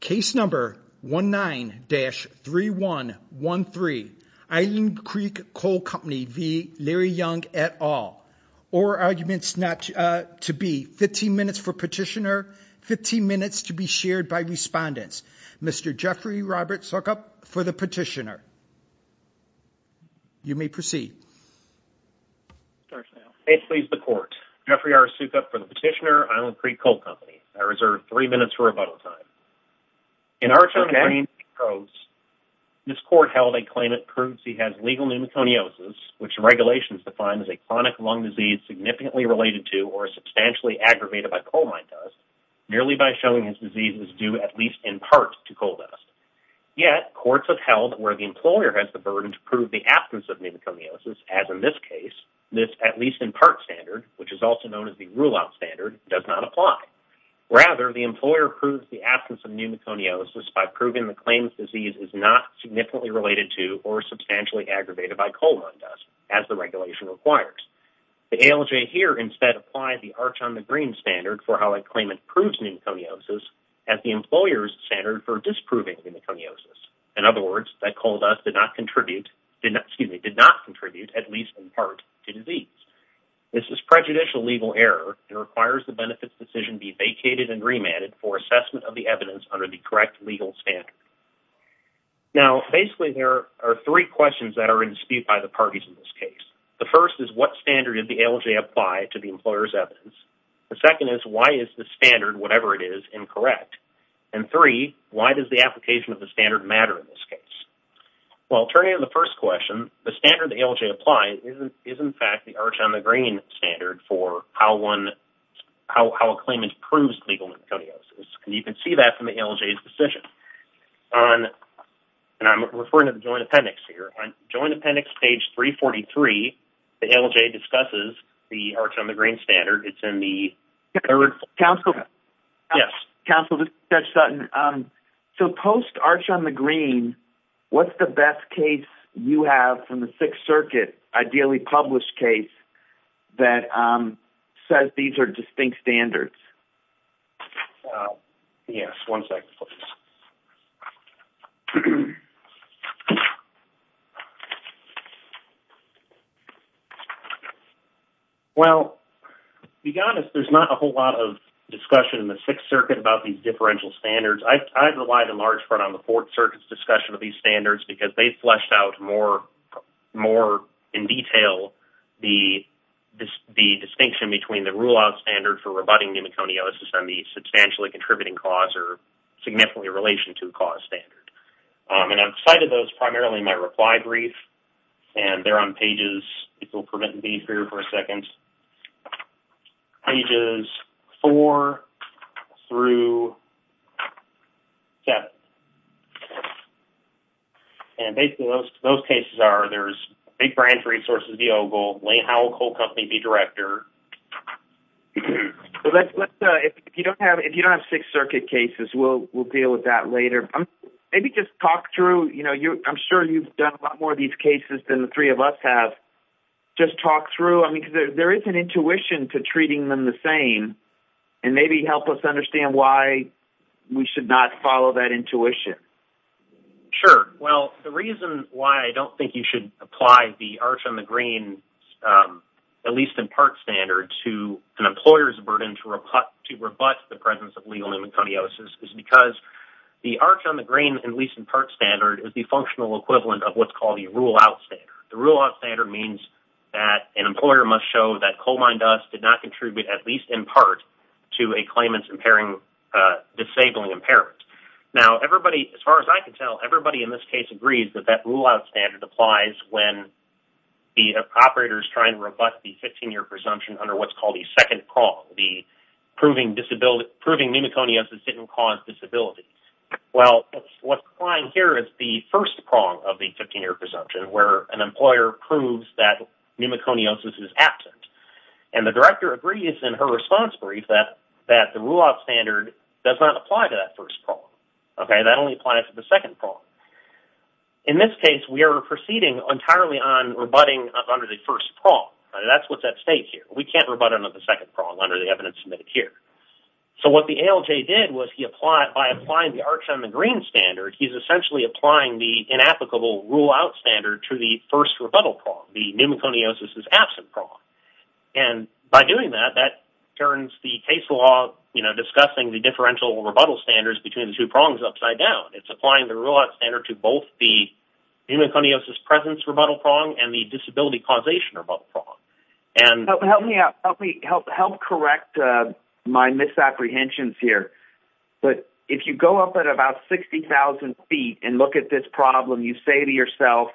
Case number 19-3113 Island Creek Coal Company v. Larry Young et al. Or arguments to be 15 minutes for petitioner, 15 minutes to be shared by respondents. Mr. Jeffrey Robert Sukup for the petitioner. You may proceed. State please the court. Jeffrey R. Sukup for the petitioner, Island Creek Coal Company. I reserve three minutes for rebuttal time. In our term of greening codes, this court held a claimant proves he has legal pneumoconiosis, which regulations define as a chronic lung disease significantly related to or substantially aggravated by coal mine dust, merely by showing his disease is due at least in part to coal dust. Yet courts have held where the employer has the burden to prove the absence of pneumoconiosis, as in this case, this at least in part standard, which is also known as the rule out standard, does not apply. Rather, the employer proves the absence of pneumoconiosis by proving the claimant's disease is not significantly related to or substantially aggravated by coal mine dust, as the regulation requires. The ALJ here instead applied the arch on the green standard for how a claimant proves pneumoconiosis as the employer's standard for disproving pneumoconiosis. In other words, that coal dust did not contribute, excuse me, did not contribute at least in part to disease. This is prejudicial legal error and requires the benefits decision be vacated and remanded for assessment of the evidence under the correct legal standard. Now, basically, there are three questions that are in dispute by the parties in this case. The first is what standard did the ALJ apply to the employer's evidence? The second is why is the standard, whatever it is, incorrect? And three, why does the application of the standard matter in this case? Well, turning to the first question, the standard the ALJ applied is, in fact, the arch on the green standard for how a claimant proves pneumoconiosis. And you can see that from the ALJ's decision. And I'm referring to the Joint Appendix here. On Joint Appendix page 343, the ALJ discusses the arch on the green standard. It's in the third... Counselor? Yes. Counselor Judge Sutton, so post arch on the green, what's the best case you have from the Sixth Circuit, ideally published case, that says these are distinct standards? Yes. One second, please. Well, to be honest, there's not a whole lot of discussion in the Sixth Circuit about these standards because they fleshed out more in detail the distinction between the rule-out standard for rebutting pneumoconiosis and the substantially contributing cause or significantly relation to cause standard. And I've cited those primarily in my reply brief. And they're on pages... And basically, those cases are, there's Big Brands Resources v. Ogle, Lane Howell Coal Company v. Director. If you don't have Sixth Circuit cases, we'll deal with that later. Maybe just talk through... You know, I'm sure you've done a lot more of these cases than the three of us have. Just talk through... I mean, there is an intuition to treating them the same and maybe help us understand why we should not follow that intuition. Sure. Well, the reason why I don't think you should apply the arch on the green, at least in part, standard to an employer's burden to rebut the presence of legal pneumoconiosis is because the arch on the green, at least in part, standard is the functional equivalent of what's called the rule-out standard. The rule-out standard means that an employer must show that coal mine dust did not contribute, at least in part, to a claimant's disabling impairment. Now, everybody, as far as I can tell, everybody in this case agrees that that rule-out standard applies when the operator's trying to rebut the 15-year presumption under what's called the second prong, the proving pneumoconiosis didn't cause disability. Well, what's applying here is the first prong of the 15-year presumption where an employer proves that pneumoconiosis is absent. And the director agrees in her response brief that the rule-out standard does not apply to that first prong. Okay? That only applies to the second prong. In this case, we are proceeding entirely on rebutting under the first prong. That's what's at stake here. We can't rebut under the second prong under the evidence submitted here. So what the ALJ did was he applied... By applying the arch inapplicable rule-out standard to the first rebuttal prong, the pneumoconiosis is absent prong. And by doing that, that turns the case law, you know, discussing the differential rebuttal standards between the two prongs upside down. It's applying the rule-out standard to both the pneumoconiosis presence rebuttal prong and the disability causation rebuttal prong. And... Help me out. Help correct my misapprehensions here. But if you go up at 60,000 feet and look at this problem, you say to yourself,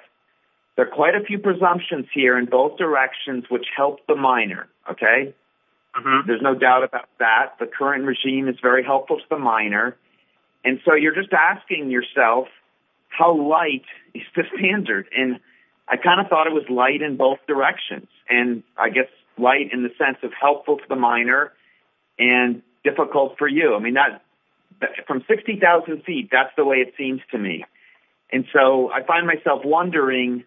there are quite a few presumptions here in both directions which help the minor. Okay? There's no doubt about that. The current regime is very helpful to the minor. And so you're just asking yourself, how light is this standard? And I kind of thought it was light in both directions. And I guess light in the sense of helpful to the minor and difficult for you. I mean, from 60,000 feet, that's the way it seems to me. And so I find myself wondering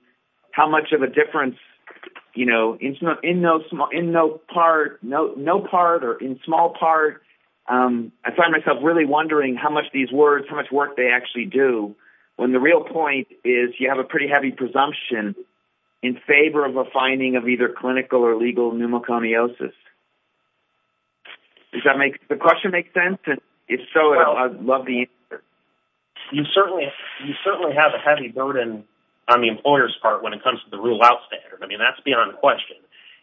how much of a difference, you know, in no part or in small part, I find myself really wondering how much these words, how much work they actually do when the real point is you have a pretty heavy presumption in favor of a finding of either clinical or legal pneumoconiosis. Does that make the question make sense? And if so, I'd love to hear it. You certainly have a heavy burden on the employer's part when it comes to the rule-out standard. I mean, that's beyond question.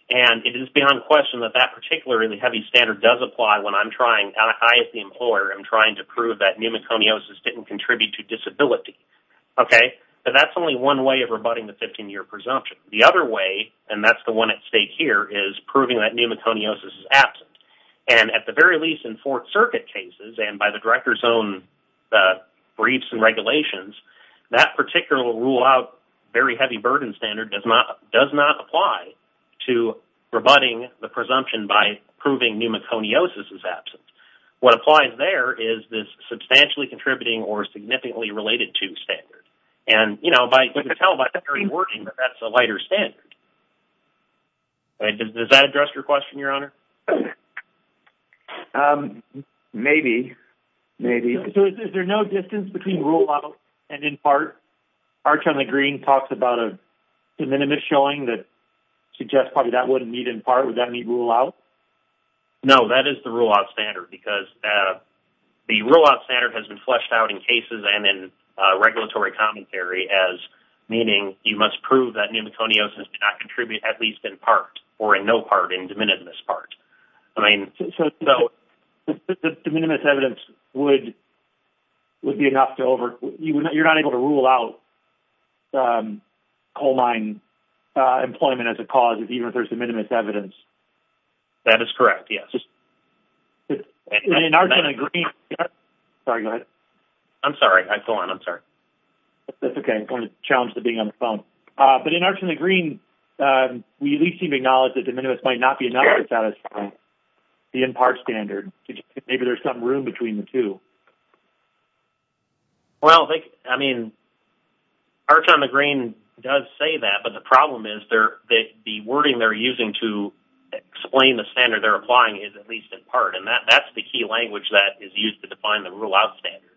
And it is beyond question that that particular heavy standard does apply when I'm trying, I as the employer, am trying to prove that pneumoconiosis didn't contribute to disability. Okay? But that's only one way of rebutting the 15-year presumption. The other way, and that's the one at stake here, is proving that pneumoconiosis is absent. And at the very least, in Fourth Circuit cases and by the director's own briefs and regulations, that particular rule-out very heavy burden standard does not apply to rebutting the presumption by proving pneumoconiosis is absent. What applies there is this substantially contributing or significantly related to standard. And, you know, you can tell by the very wording that that's a standard. Does that address your question, Your Honor? Maybe. Maybe. So is there no distance between rule-out and impart? Arch on the green talks about a de minimis showing that suggests probably that wouldn't meet impart. Would that meet rule-out? No, that is the rule-out standard because the rule-out standard has been fleshed out in cases and in regulatory commentary as meaning you must prove that pneumoconiosis did not contribute at least in part or in no part in de minimis part. I mean... De minimis evidence would be enough to over... You're not able to rule out coal mine employment as a cause, even if there's de minimis evidence. That is correct, yes. Arch on the green... Sorry, go ahead. I'm sorry. Go on. I'm sorry. That's okay. I'm going to challenge the being on the phone. But in Arch on the green, we at least seem to acknowledge that de minimis might not be enough to satisfy the impart standard. Maybe there's some room between the two. Well, I mean, Arch on the green does say that, but the problem is the wording they're using to explain the standard they're applying is at least impart, and that's the key language that is used to define the rule-out standard.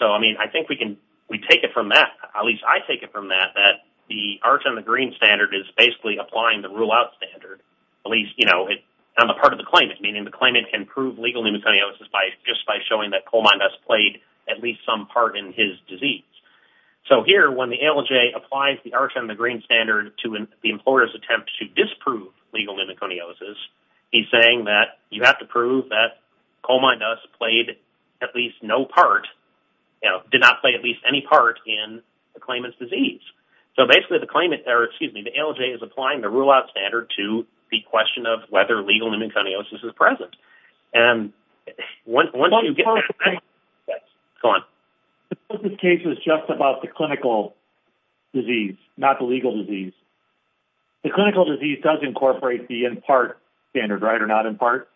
So, I mean, I think we can... We take it from that. At least I take it from that, that the Arch on the green standard is basically applying the rule-out standard, at least, you know, on the part of the claimant, meaning the claimant can prove legal pneumoconiosis just by showing that coal mine dust played at least some part in his disease. So here, when the ALJ applies the Arch on the green standard to the employer's attempt to disprove legal pneumoconiosis, he's saying that you have to prove that coal mine dust played at least no part, you know, did not play at least any part in the claimant's disease. So, basically, the claimant, or excuse me, the ALJ is applying the rule-out standard to the question of whether legal pneumoconiosis is present. And once you get... Go on. This case is just about the clinical disease, not the legal disease. The clinical disease does incorporate the impart standard, right, or not impart?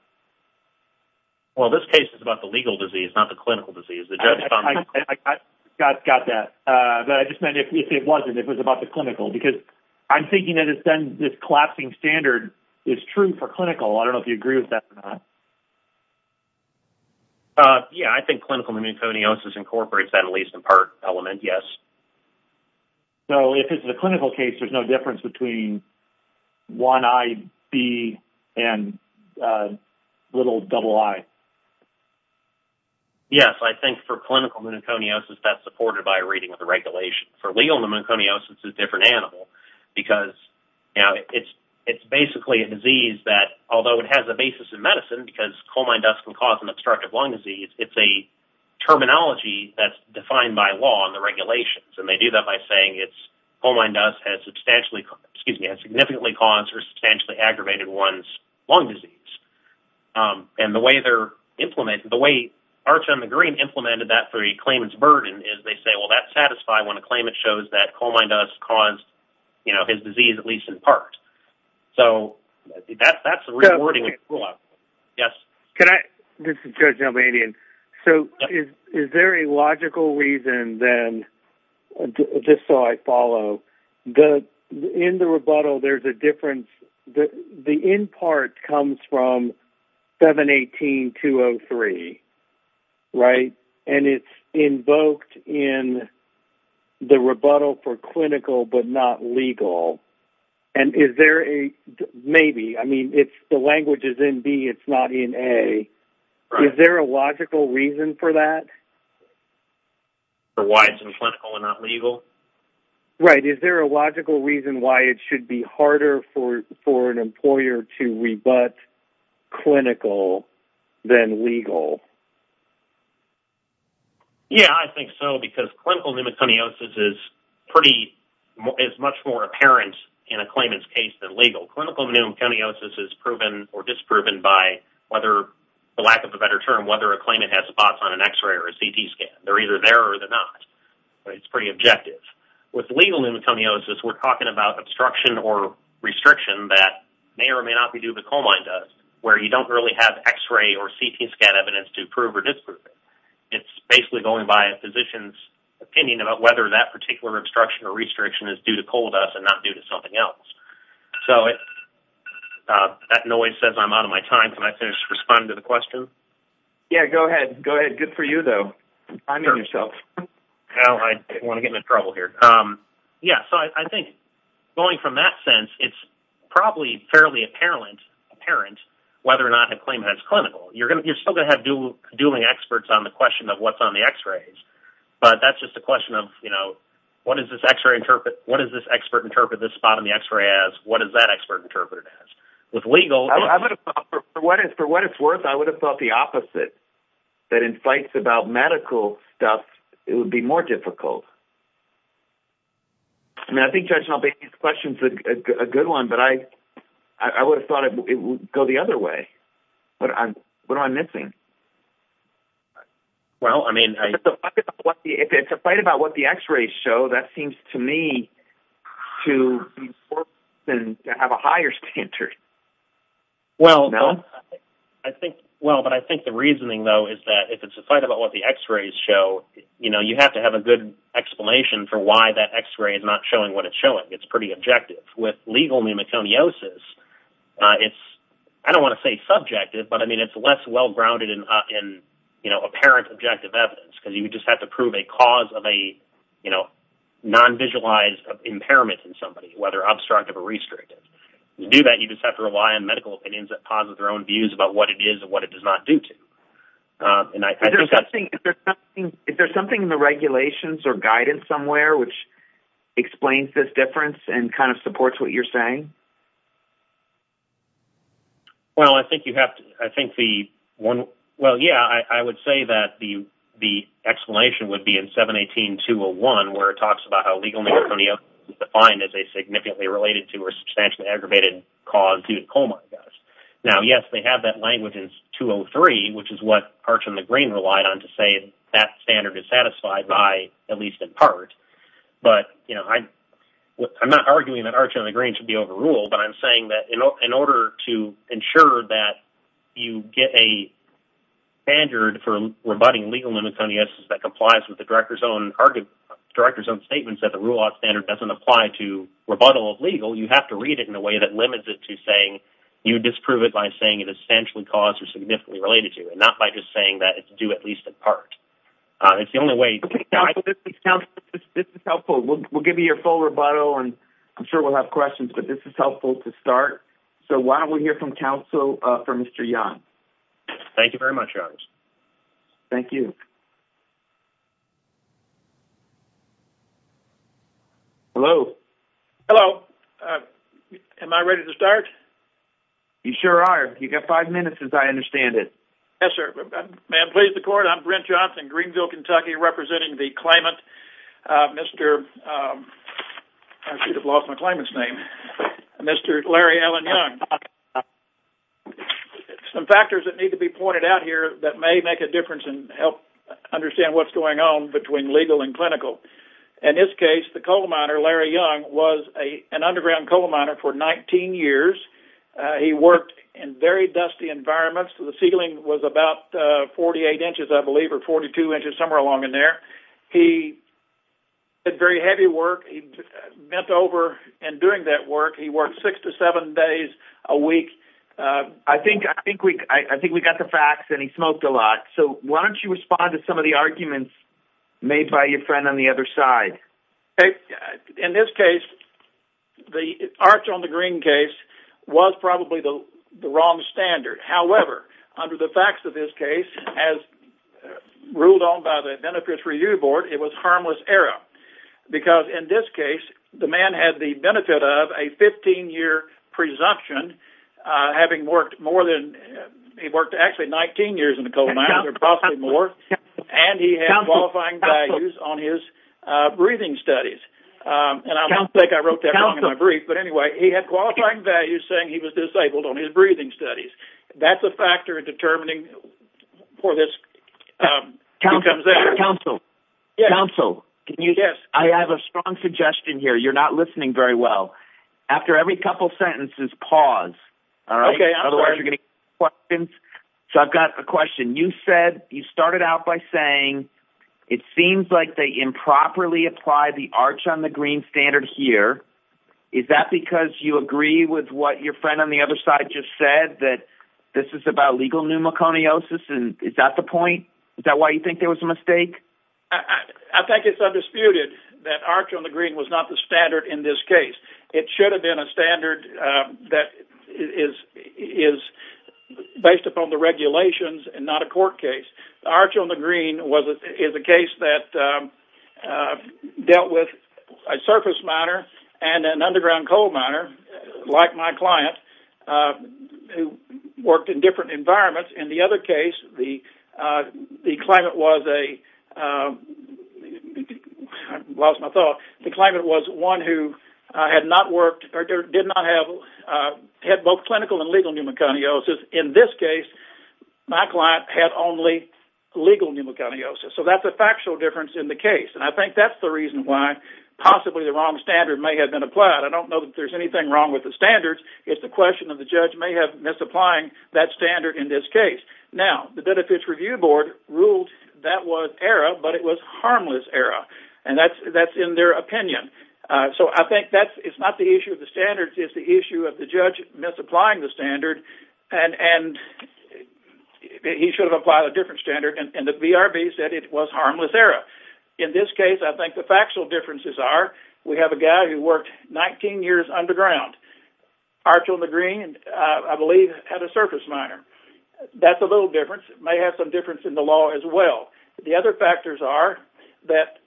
Well, this case is about the legal disease, not the clinical disease. I got that, but I just meant if it wasn't, if it was about the clinical, because I'm thinking that it's been this collapsing standard is true for clinical. I don't know if you incorporate that at least impart element, yes. So, if it's a clinical case, there's no difference between 1IB and little double I? Yes, I think for clinical pneumoconiosis, that's supported by a reading of the regulation. For legal pneumoconiosis, it's a different animal, because, you know, it's basically a disease that, although it has a basis in medicine, because coal mine dust can cause an obstructive lung disease, it's a terminology that's defined by law and the regulations. And they do that by saying it's coal mine dust has substantially, excuse me, has significantly caused or substantially aggravated one's lung disease. And the way they're implemented, the way Arch on the Green implemented that for a claimant's burden is they say, well, that's satisfied when a claimant shows that coal mine dust caused, you know, his disease, at least in part. So, that's a rewarding rule-out. Can I? This is Joe Gelbanian. So, is there a logical reason, then, just so I follow, that in the rebuttal, there's a difference? The in part comes from 718-203, right? And it's invoked in the rebuttal for clinical, but not legal. And is there a maybe? I mean, it's the language is in B, it's not in A. Is there a logical reason for that? For why it's in clinical and not legal? Right. Is there a logical reason why it should be harder for an employer to rebut clinical than legal? Yeah, I think so, because clinical pneumoconiosis is much more apparent in a claimant's case than or disproven by whether, for lack of a better term, whether a claimant has spots on an X-ray or a CT scan. They're either there or they're not. It's pretty objective. With legal pneumoconiosis, we're talking about obstruction or restriction that may or may not be due to coal mine dust, where you don't really have X-ray or CT scan evidence to prove or disprove it. It's basically going by a physician's opinion about whether that particular obstruction or restriction is due to that. Respond to the question? Yeah, go ahead. Good for you, though. So, I think, going from that sense, it's probably fairly apparent whether or not a claimant is clinical. You're still going to have dueling experts on the question of what's on the X-rays, but that's just a question of, you know, what does this expert interpret this spot on the X-ray as? What does that expert interpret it as? With legal... For what it's worth, I would have thought the opposite, that in fights about medical stuff, it would be more difficult. I mean, I think Judge Nalbese's question's a good one, but I would have thought it would go the other way. What am I missing? Well, I mean... If it's a fight about what the X-rays show, that seems to me to be more important than have a higher standard. Well, I think... Well, but I think the reasoning, though, is that if it's a fight about what the X-rays show, you know, you have to have a good explanation for why that X-ray is not showing what it's showing. It's pretty objective. With legal pneumoconiosis, it's... I don't want to say subjective, but, I mean, it's less well-grounded in, you know, apparent objective evidence because you just have to prove a cause of a, you know, non-visualized impairment in to do that. You just have to rely on medical opinions that posit their own views about what it is and what it does not do to. And I think that's... Is there something in the regulations or guidance somewhere which explains this difference and kind of supports what you're saying? Well, I think you have to... I think the one... Well, yeah, I would say that the explanation would be in 718-201, where it talks about how legal pneumoconiosis is defined as a significantly related to or substantially aggravated cause due to coma, I guess. Now, yes, they have that language in 203, which is what Arch and the Green relied on to say that standard is satisfied by, at least in part. But, you know, I'm not arguing that Arch and the Green should be overruled, but I'm saying that in order to ensure that you get a standard for rebutting legal pneumoconiosis that complies with the director's own arguments... director's own rebuttal of legal, you have to read it in a way that limits it to saying you disprove it by saying it is substantially caused or significantly related to, and not by just saying that it's due at least in part. It's the only way... Okay. Council, this is helpful. We'll give you your full rebuttal, and I'm sure we'll have questions, but this is helpful to start. So why don't we hear from Council for Mr. Young? Thank you very much, Arch. Thank you. Hello. Hello. Am I ready to start? You sure are. You've got five minutes, as I understand it. Yes, sir. May I please the court? I'm Brent Johnson, Greenville, Kentucky, representing the claimant, Mr... I should have lost my claimant's name. Mr. Larry Allen Young. Some factors that may make a difference and help understand what's going on between legal and clinical. In this case, the coal miner, Larry Young, was an underground coal miner for 19 years. He worked in very dusty environments. The ceiling was about 48 inches, I believe, or 42 inches, somewhere along in there. He did very heavy work. He bent over, and during that work, he worked six to seven days a week. I think we got the facts, and he smoked a lot. So why don't you respond to some of the arguments made by your friend on the other side? In this case, the arch on the green case was probably the wrong standard. However, under the facts of this case, as ruled on by the Benefits Review Board, it was harmless error, because in this case, the man had the benefit of a 15-year presumption, having worked more than... He worked, actually, 19 years in the coal miner, possibly more, and he had qualifying values on his breathing studies. And I don't think I wrote that wrong in my brief, but anyway, he had qualifying values saying he was disabled on his breathing studies. That's a factor in determining for this... Council. Council. Can you... Yes. I have a strong suggestion here. You're not listening very well. After every couple sentences, pause. All right? Okay. Otherwise, you're going to get questions. So I've got a question. You said... You started out by saying, it seems like they improperly applied the arch on the green standard here. Is that because you agree with what your friend on the other side just said, that this is about legal pneumoconiosis, and is that the point? Is that why you think there was a mistake? I think it's undisputed that arch on the green was not the standard in this case. It should have been a standard that is based upon the regulations and not a court case. Arch on the green is a case that dealt with a surface miner and an underground coal miner, like my client, who worked in different environments. In the other case, the client was a... I've lost my thought. The client was one who had not worked or did not have both clinical and legal pneumoconiosis. In this case, my client had only legal pneumoconiosis. So that's a factual difference in the case. And I think that's the reason why possibly the wrong standard may have been applied. I don't know that there's anything wrong with the standards. It's a question of the judge may have misapplied that standard in this case. Now, the Benefits Review Board ruled that was error, but it was harmless error, and that's in their opinion. So I think that's... It's not the issue of the standards. It's the issue of the judge misapplying the standard, and he should have applied a different standard, and the VRB said it was harmless error. In this case, I think the factual differences are we have a guy who worked 19 years underground. Arch on the green, I believe, had a surface miner. That's a little difference. It may have some difference in the law as well. The other factors are that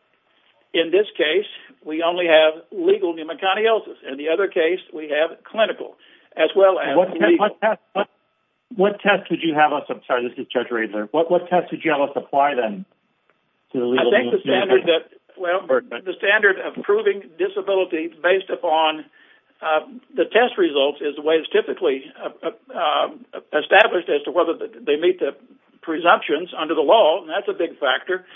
in this case, we only have legal pneumoconiosis. In the other case, we have clinical as well as legal. What test would you have us... I'm sorry, this is Judge Riedler. What test would you have us apply then to the legal pneumoconiosis? I think the standard that... Well, the standard of proving disability based upon the test results is the way it's typically established as to whether they meet the presumptions under the law, and that's a big factor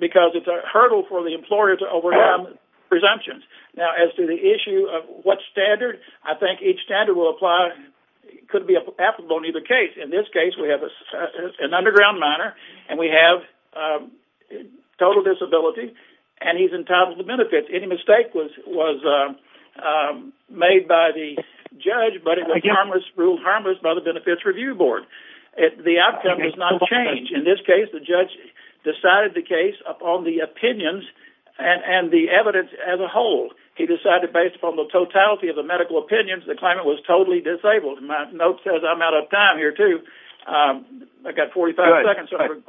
because it's a hurdle for the employer to overcome presumptions. Now, as to the issue of what standard, I think each standard will apply, could be applicable in either case. In this case, we have an underground miner, and we have total disability, and he's entitled to benefits. Any mistake was made by the judge, but it was ruled harmless by the Benefits Review Board. The outcome does not change. In this case, the judge decided the case upon the opinions and the evidence as a whole. He decided based upon the totality of the medical opinions, the claimant was totally disabled. My note says I'm out of time here, too. I've got 45 seconds, so I'm going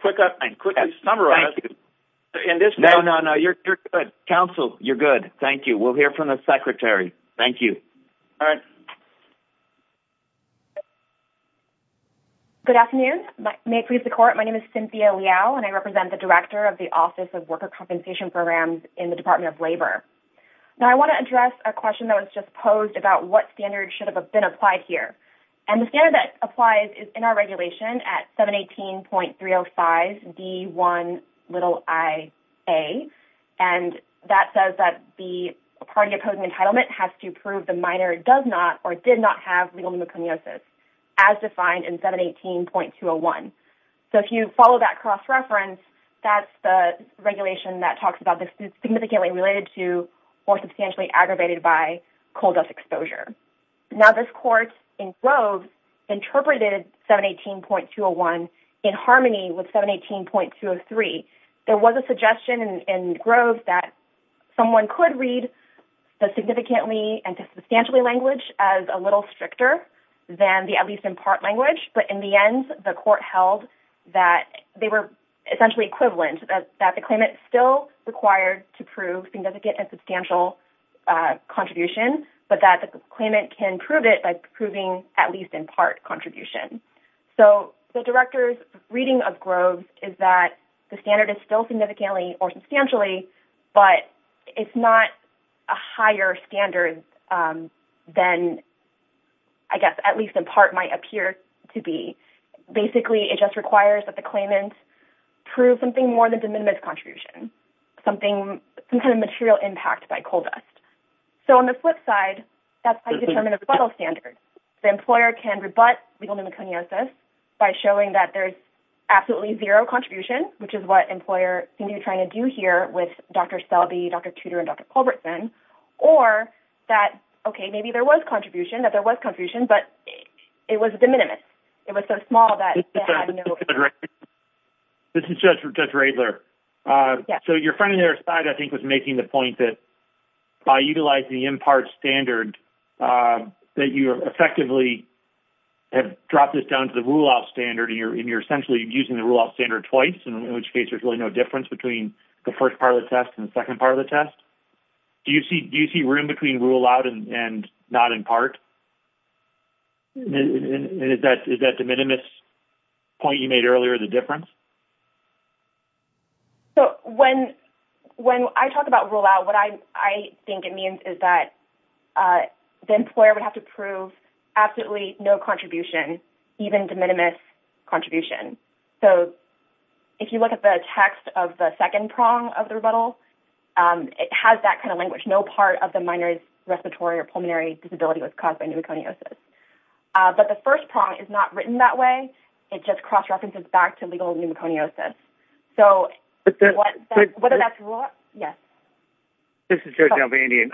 to quickly summarize. No, no, no, you're good. Counsel, you're good. Thank you. We'll hear from the secretary. Thank you. All right. Good afternoon. May it please the Court, my name is Cynthia Liao, and I represent the Director of the Office of Worker Compensation Programs in the Department of Labor. Now, I want to address a question that was just posed about what standard should have been applied here, and the standard that applies is in our regulation at 718.305D1iA, and that says that the party opposing entitlement has to prove the miner does not or did not have legal pneumoconiosis as defined in 718.201. So, if you follow that cross-reference, that's the regulation that talks about this is significantly related to or substantially aggravated by coal dust exposure. Now, this Court in Grove interpreted 718.201 in harmony with 718.203. There was a suggestion in Grove that someone could read the significantly and substantially language as a little stricter than the at least in part language, but in the end, the Court held that they were essentially equivalent, that the claimant still required to prove significant and substantial contribution, but that the claimant can prove it by proving at least in part contribution. So, the Director's reading of Grove is that the standard is still significantly or substantially, but it's not a higher standard than, I guess, at least in part might appear to be. Basically, it just requires that the claimant prove something more than the minimum contribution, something, some kind of material impact by coal dust. So, on the flip side, that's how you determine a rebuttal standard. The employer can rebut legal pneumoconiosis by showing that there's absolutely zero contribution, which is what employer seemed to be trying to do here with Dr. Selby, Dr. Tudor, and Dr. Culbertson, or that, okay, maybe there was contribution, that there was contribution, but it was de minimis. It was so small that it had no... This is Judge Radler. So, your friend on the other side, I think, was making the point that by utilizing the in part standard, that you effectively have dropped this down to the rule-out standard, and you're essentially using the rule-out standard twice, in which case there's really no difference between the first part of the test and the second part of the test. Do you see room between rule-out and not in part? Is that de minimis point you made earlier the difference? So, when I talk about rule-out, what I think it means is that the employer would have to prove absolutely no contribution, even de minimis contribution. So, if you look at the text of the second prong of the rebuttal, it has that kind of language, no part of the minor respiratory or disability was caused by pneumoconiosis. But the first prong is not written that way. It just cross-references back to legal pneumoconiosis. So, whether that's rule-out... Yes. This is Judge Albandian.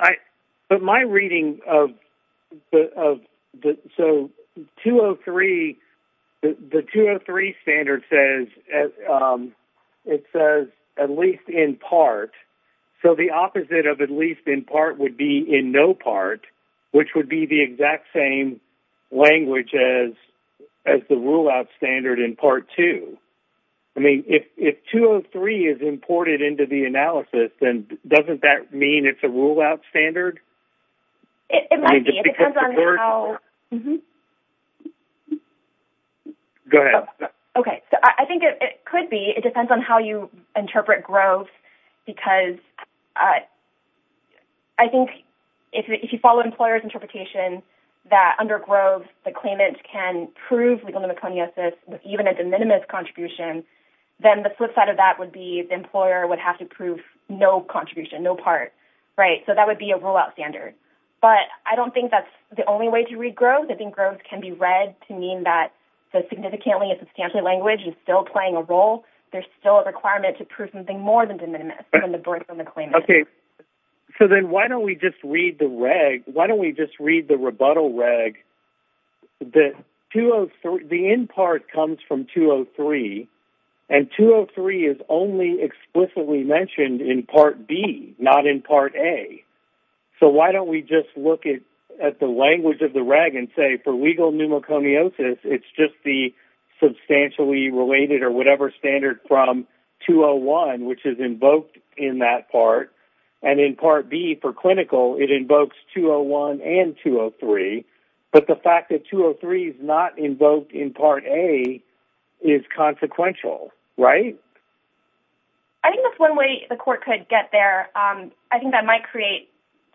But my reading of... So, 203, the 203 standard says at least in part. So, the opposite of at least in part would be in no part, which would be the exact same language as the rule-out standard in Part 2. I mean, if 203 is imported into the analysis, then doesn't that mean it's a rule-out standard? It might be. It depends on how... Go ahead. Okay. So, I think it could be. It could be. I think if you follow employer's interpretation that under Groves, the claimant can prove legal pneumoconiosis with even a de minimis contribution, then the flip side of that would be the employer would have to prove no contribution, no part, right? So, that would be a rule-out standard. But I don't think that's the only way to read Groves. I think Groves can be read to mean that the significantly and substantially language is still playing a role. There's still a requirement to prove something more than de minimis, than the break from the claimant. Okay. So, then why don't we just read the reg? Why don't we just read the rebuttal reg? The in part comes from 203, and 203 is only explicitly mentioned in Part B, not in Part A. So, why don't we just look at the language of the reg and say, for legal pneumoconiosis, it's just the substantially related or whatever standard from 201, which is invoked in that part. And in Part B, for clinical, it invokes 201 and 203. But the fact that 203 is not invoked in Part A is consequential, right? I think that's one way the court could get there. I think that might create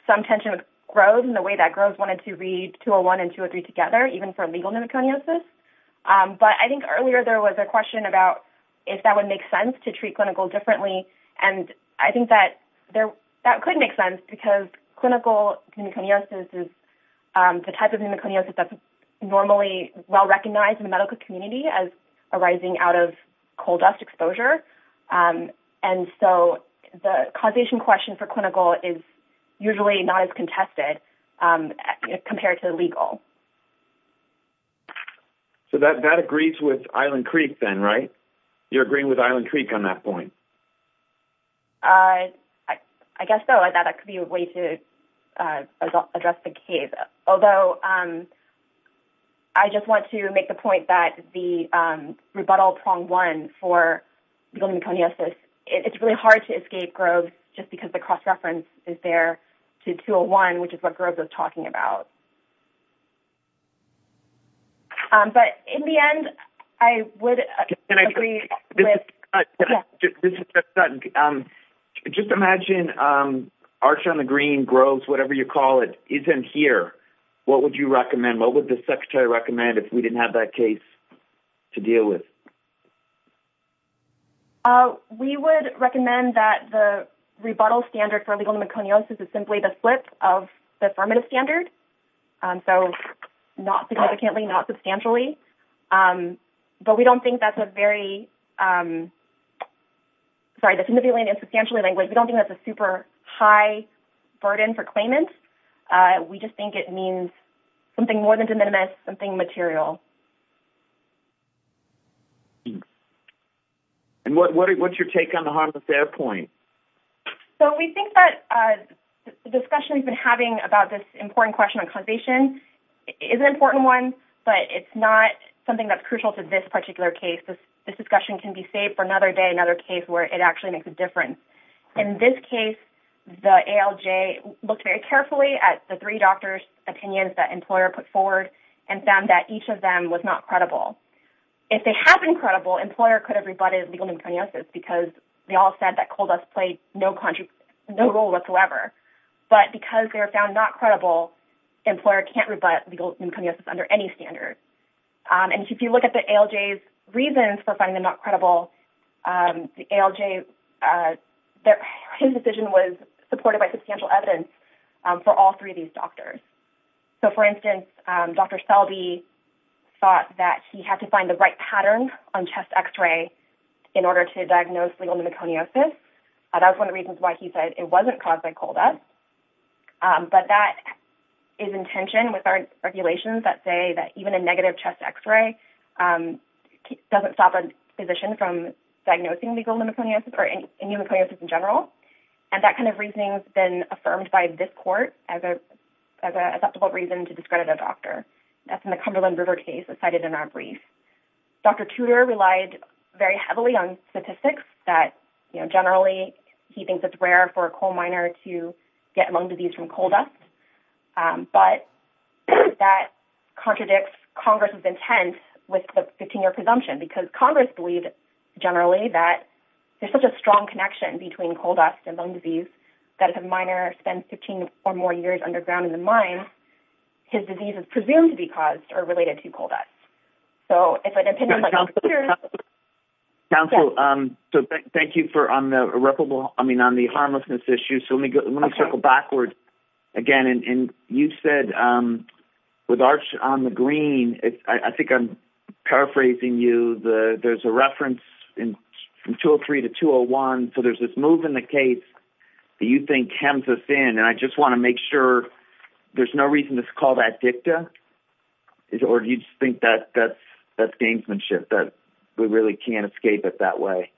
some tension with Groves and the way that Groves wanted to read 201 and 203 together, even for legal pneumoconiosis. But I think earlier, there was a question about if that would make sense to treat clinical differently. And I think that could make sense because clinical pneumoconiosis is the type of pneumoconiosis that's normally well recognized in the medical community as arising out of coal dust exposure. And so, the causation question for clinical is that. So, that agrees with Island Creek then, right? You're agreeing with Island Creek on that point? I guess so. I thought that could be a way to address the case. Although, I just want to make the point that the rebuttal prong one for legal pneumoconiosis, it's really hard to escape Groves just because the cross-reference is there to 201, which is what Groves is talking about. But in the end, I would agree with... Just imagine Archer on the Green, Groves, whatever you call it, isn't here. What would you recommend? What would the Secretary recommend if we didn't have that case to deal with? We would recommend that the rebuttal standard for legal pneumoconiosis is simply the split of the affirmative standard. So, not significantly, not substantially. But we don't think that's a very... Sorry, significantly and substantially. We don't think that's a super high burden for claimants. We just think it means something more than de minimis, something material. And what's your take on the harmless point? So, we think that the discussion we've been having about this important question on compensation is an important one, but it's not something that's crucial to this particular case. This discussion can be saved for another day, another case where it actually makes a difference. In this case, the ALJ looked very carefully at the three doctors' opinions that employer put forward and found that each of them was not credible. If they had been credible, employer could have rebutted legal pneumoconiosis because they all said that coal dust played no role whatsoever. But because they were found not credible, employer can't rebut legal pneumoconiosis under any standard. And if you look at the ALJ's reasons for finding them not credible, the ALJ... His decision was supported by substantial evidence for all three of these doctors. So, for instance, Dr. Selby thought that he had to find the right pneumoconiosis. That was one of the reasons why he said it wasn't caused by coal dust. But that is in tension with our regulations that say that even a negative chest X-ray doesn't stop a physician from diagnosing legal pneumoconiosis or pneumoconiosis in general. And that kind of reasoning has been affirmed by this court as an acceptable reason to discredit a doctor. That's in the Cumberland River case that's cited in our brief. Dr. Tudor relied very heavily on statistics that generally he thinks it's rare for a coal miner to get lung disease from coal dust. But that contradicts Congress's intent with the 15-year presumption because Congress believed generally that there's such a strong connection between coal dust and lung disease that if a miner spends 15 or more years underground in the mine, his disease is presumed to be caused or related to coal dust. So if an opinion like Dr. Tudor's counsel, um, so thank you for on the irreparable, I mean, on the harmlessness issue. So let me go, let me circle backwards again. And you said, um, with arch on the green, it's, I think I'm paraphrasing you the, there's a reference in 203 to 201. So there's this move in the case that you think hems us in. And I just want to make sure there's no reason to call that dicta is, or do you just think that that's, that's gamesmanship that we really can't escape it that way?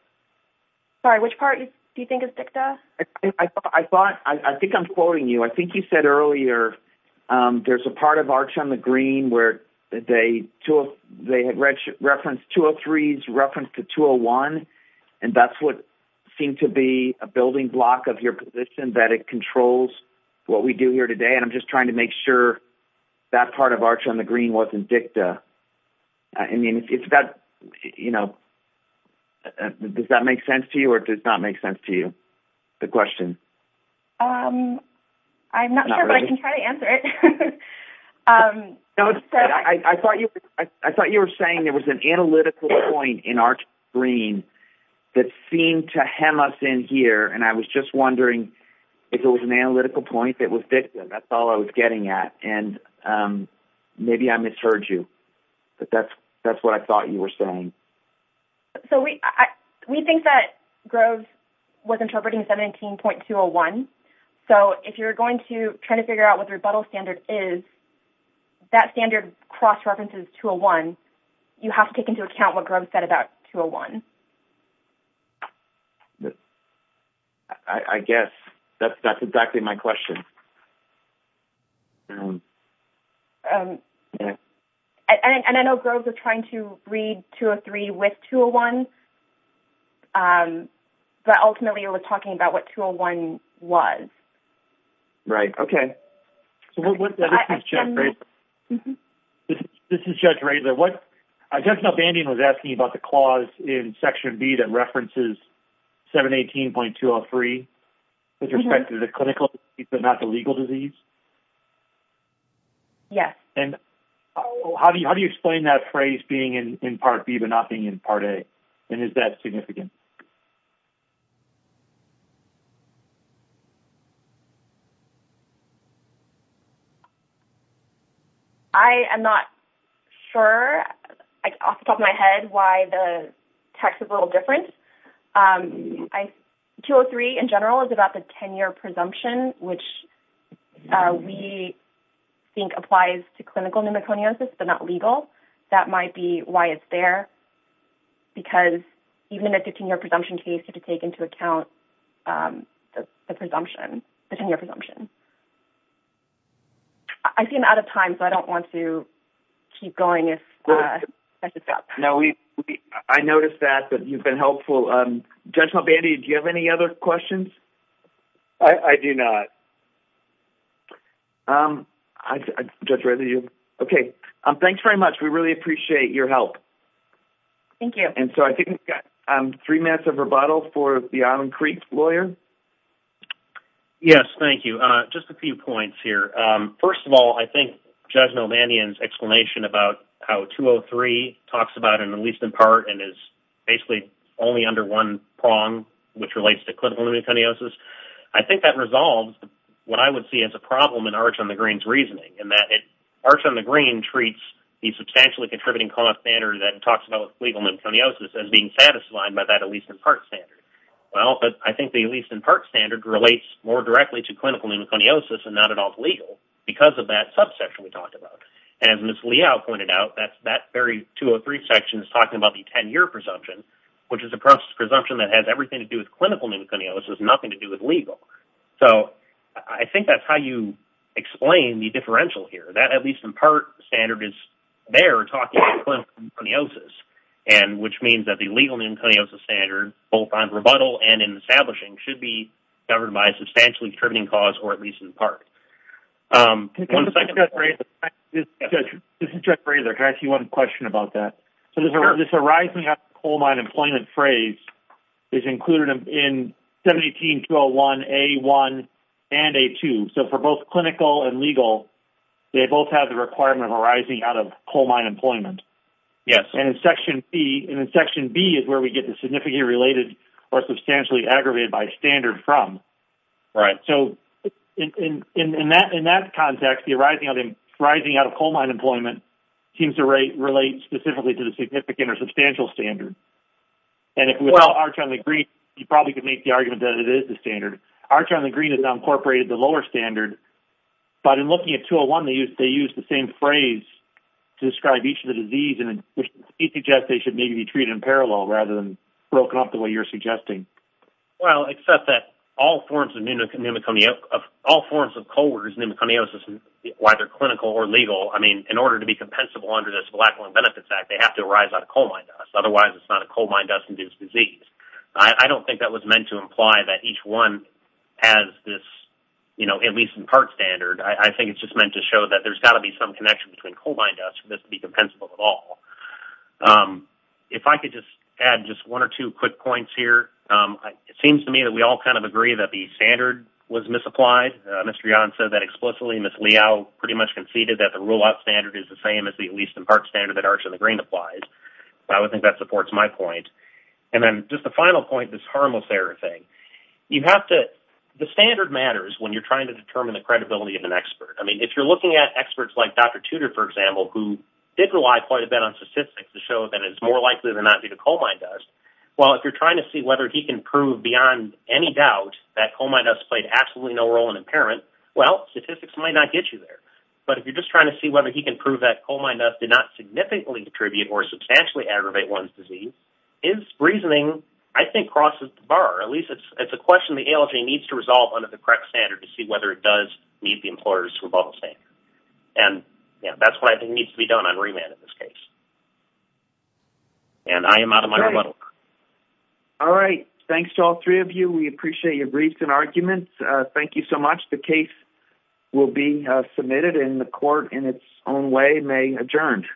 Sorry, which part do you think is dicta? I thought, I think I'm quoting you. I think you said earlier, um, there's a part of arch on the green where they, they had referenced 203s reference to 201. And that's what seemed to be a building block of your position that it controls what we do here today. And I'm just trying to make sure that part of arch on the green wasn't dicta. I mean, it's that, you know, does that make sense to you or does not make sense to you? The question? Um, I'm not sure, but I can try to answer it. Um, I thought you, I thought you were saying there was an analytical point in our green that seemed to hem us in here. And I was just wondering if it was an analytical point that was dicta, that's all I was getting at. And, um, maybe I misheard you, but that's, that's what I thought you were saying. So we, I, we think that Groves was interpreting 17.201. So if you're going to try to figure out what the rebuttal standard is, that standard cross-references 201, you have to take into account what Groves said about 201. I guess that's, that's exactly my question. Um, and I know Groves was trying to read 203 with 201, um, but ultimately it was talking about what 201 was. Right. Okay. So what's that? This is Judge Raidler. I just know Bandy was asking about the clause in Section B that references 718.203 with respect to the clinical, but not the legal disease. Yes. And how do you, how do you explain that phrase being in Part B, but not being in Part A? And is that significant? I am not sure off the top of my head why the text is a little different. Um, 203 in general is about the 10-year presumption, which we think applies to clinical pneumoconiosis, but not legal. That might be why it's there, because even in a 15-year presumption case, you have to take into account, um, the presumption, the 10-year presumption. I seem out of time, so I don't want to keep going if, uh, that's a stop. No, we, I noticed that, but you've been helpful. Um, Judge Malbandi, do you have any other questions? I, I do not. Um, I, Judge Raidler, do you? Okay. Um, thanks very much. We really appreciate your help. Thank you. And so, I think we've got, um, three minutes of rebuttal for the Island Creek lawyer. Yes. Thank you. Uh, just a few points here. Um, first of all, I think Judge Malbandian's explanation about how 203 talks about, at least in part, and is basically only under one prong, which relates to clinical pneumoconiosis, I think that resolves what I would see as a problem in Arch on the Green's reasoning, in that it, Arch on the Green treats the substantially contributing co-op standard that talks about legal pneumoconiosis as being satisfied by that at least in part standard. Well, but I think the at least in part standard relates more directly to clinical pneumoconiosis and not at all to legal, because of that subsection we talked about. And as Ms. Liao pointed out, that's, that very 203 section is talking about the 10-year presumption, which is a presumption that has everything to do with clinical pneumoconiosis, nothing to do with legal. So, I think that's how you explain the differential here, that at least in part standard is there talking about clinical pneumoconiosis, and which means that the legal pneumoconiosis standard, both on rebuttal and in establishing, should be covered by a substantially contributing cause, or at least in part. Um, one second, Judge Razor. This is Judge Razor. Can I ask you one question about that? Sure. So, this arising of coal mine employment phrase is included in 17201A1 and A2. So, for both clinical and legal, they both have the requirement of arising out of coal mine employment. Yes. And in Section B, and in Section B is where we get the significantly related or substantially aggravated by standard from. Right. So, in that context, the arising out of coal mine employment seems to relate specifically to the significant or significantly aggravated. You probably could make the argument that it is the standard. R-China Green has now incorporated the lower standard, but in looking at 201, they use the same phrase to describe each of the disease, and it suggests they should maybe be treated in parallel rather than broken up the way you're suggesting. Well, except that all forms of pneumoconiosis, whether clinical or legal, I mean, in order to be compensable under this Blackwell Benefits Act, they have to arise out of coal mine dust. Otherwise, it's not coal I don't think that was meant to imply that each one has this, you know, at least in part standard. I think it's just meant to show that there's got to be some connection between coal mine dust for this to be compensable at all. If I could just add just one or two quick points here. It seems to me that we all kind of agree that the standard was misapplied. Ms. Treon said that explicitly. Ms. Liao pretty much conceded that the rule-out standard is the same as the at least in part green applies. I would think that supports my point. And then just the final point, this harmless error thing. You have to, the standard matters when you're trying to determine the credibility of an expert. I mean, if you're looking at experts like Dr. Tudor, for example, who did rely quite a bit on statistics to show that it's more likely than not due to coal mine dust, well, if you're trying to see whether he can prove beyond any doubt that coal mine dust played absolutely no role in impairment, well, statistics might not get you there. But if you're just trying to see whether he can prove that coal mine dust did not significantly contribute or substantially aggravate one's disease, his reasoning, I think, crosses the bar. At least it's a question the ALJ needs to resolve under the correct standard to see whether it does meet the employer's rebuttal standard. And that's what I think needs to be done on remand in this case. And I am out of my rebuttal. All right. Thanks to all three of you. We are adjourned.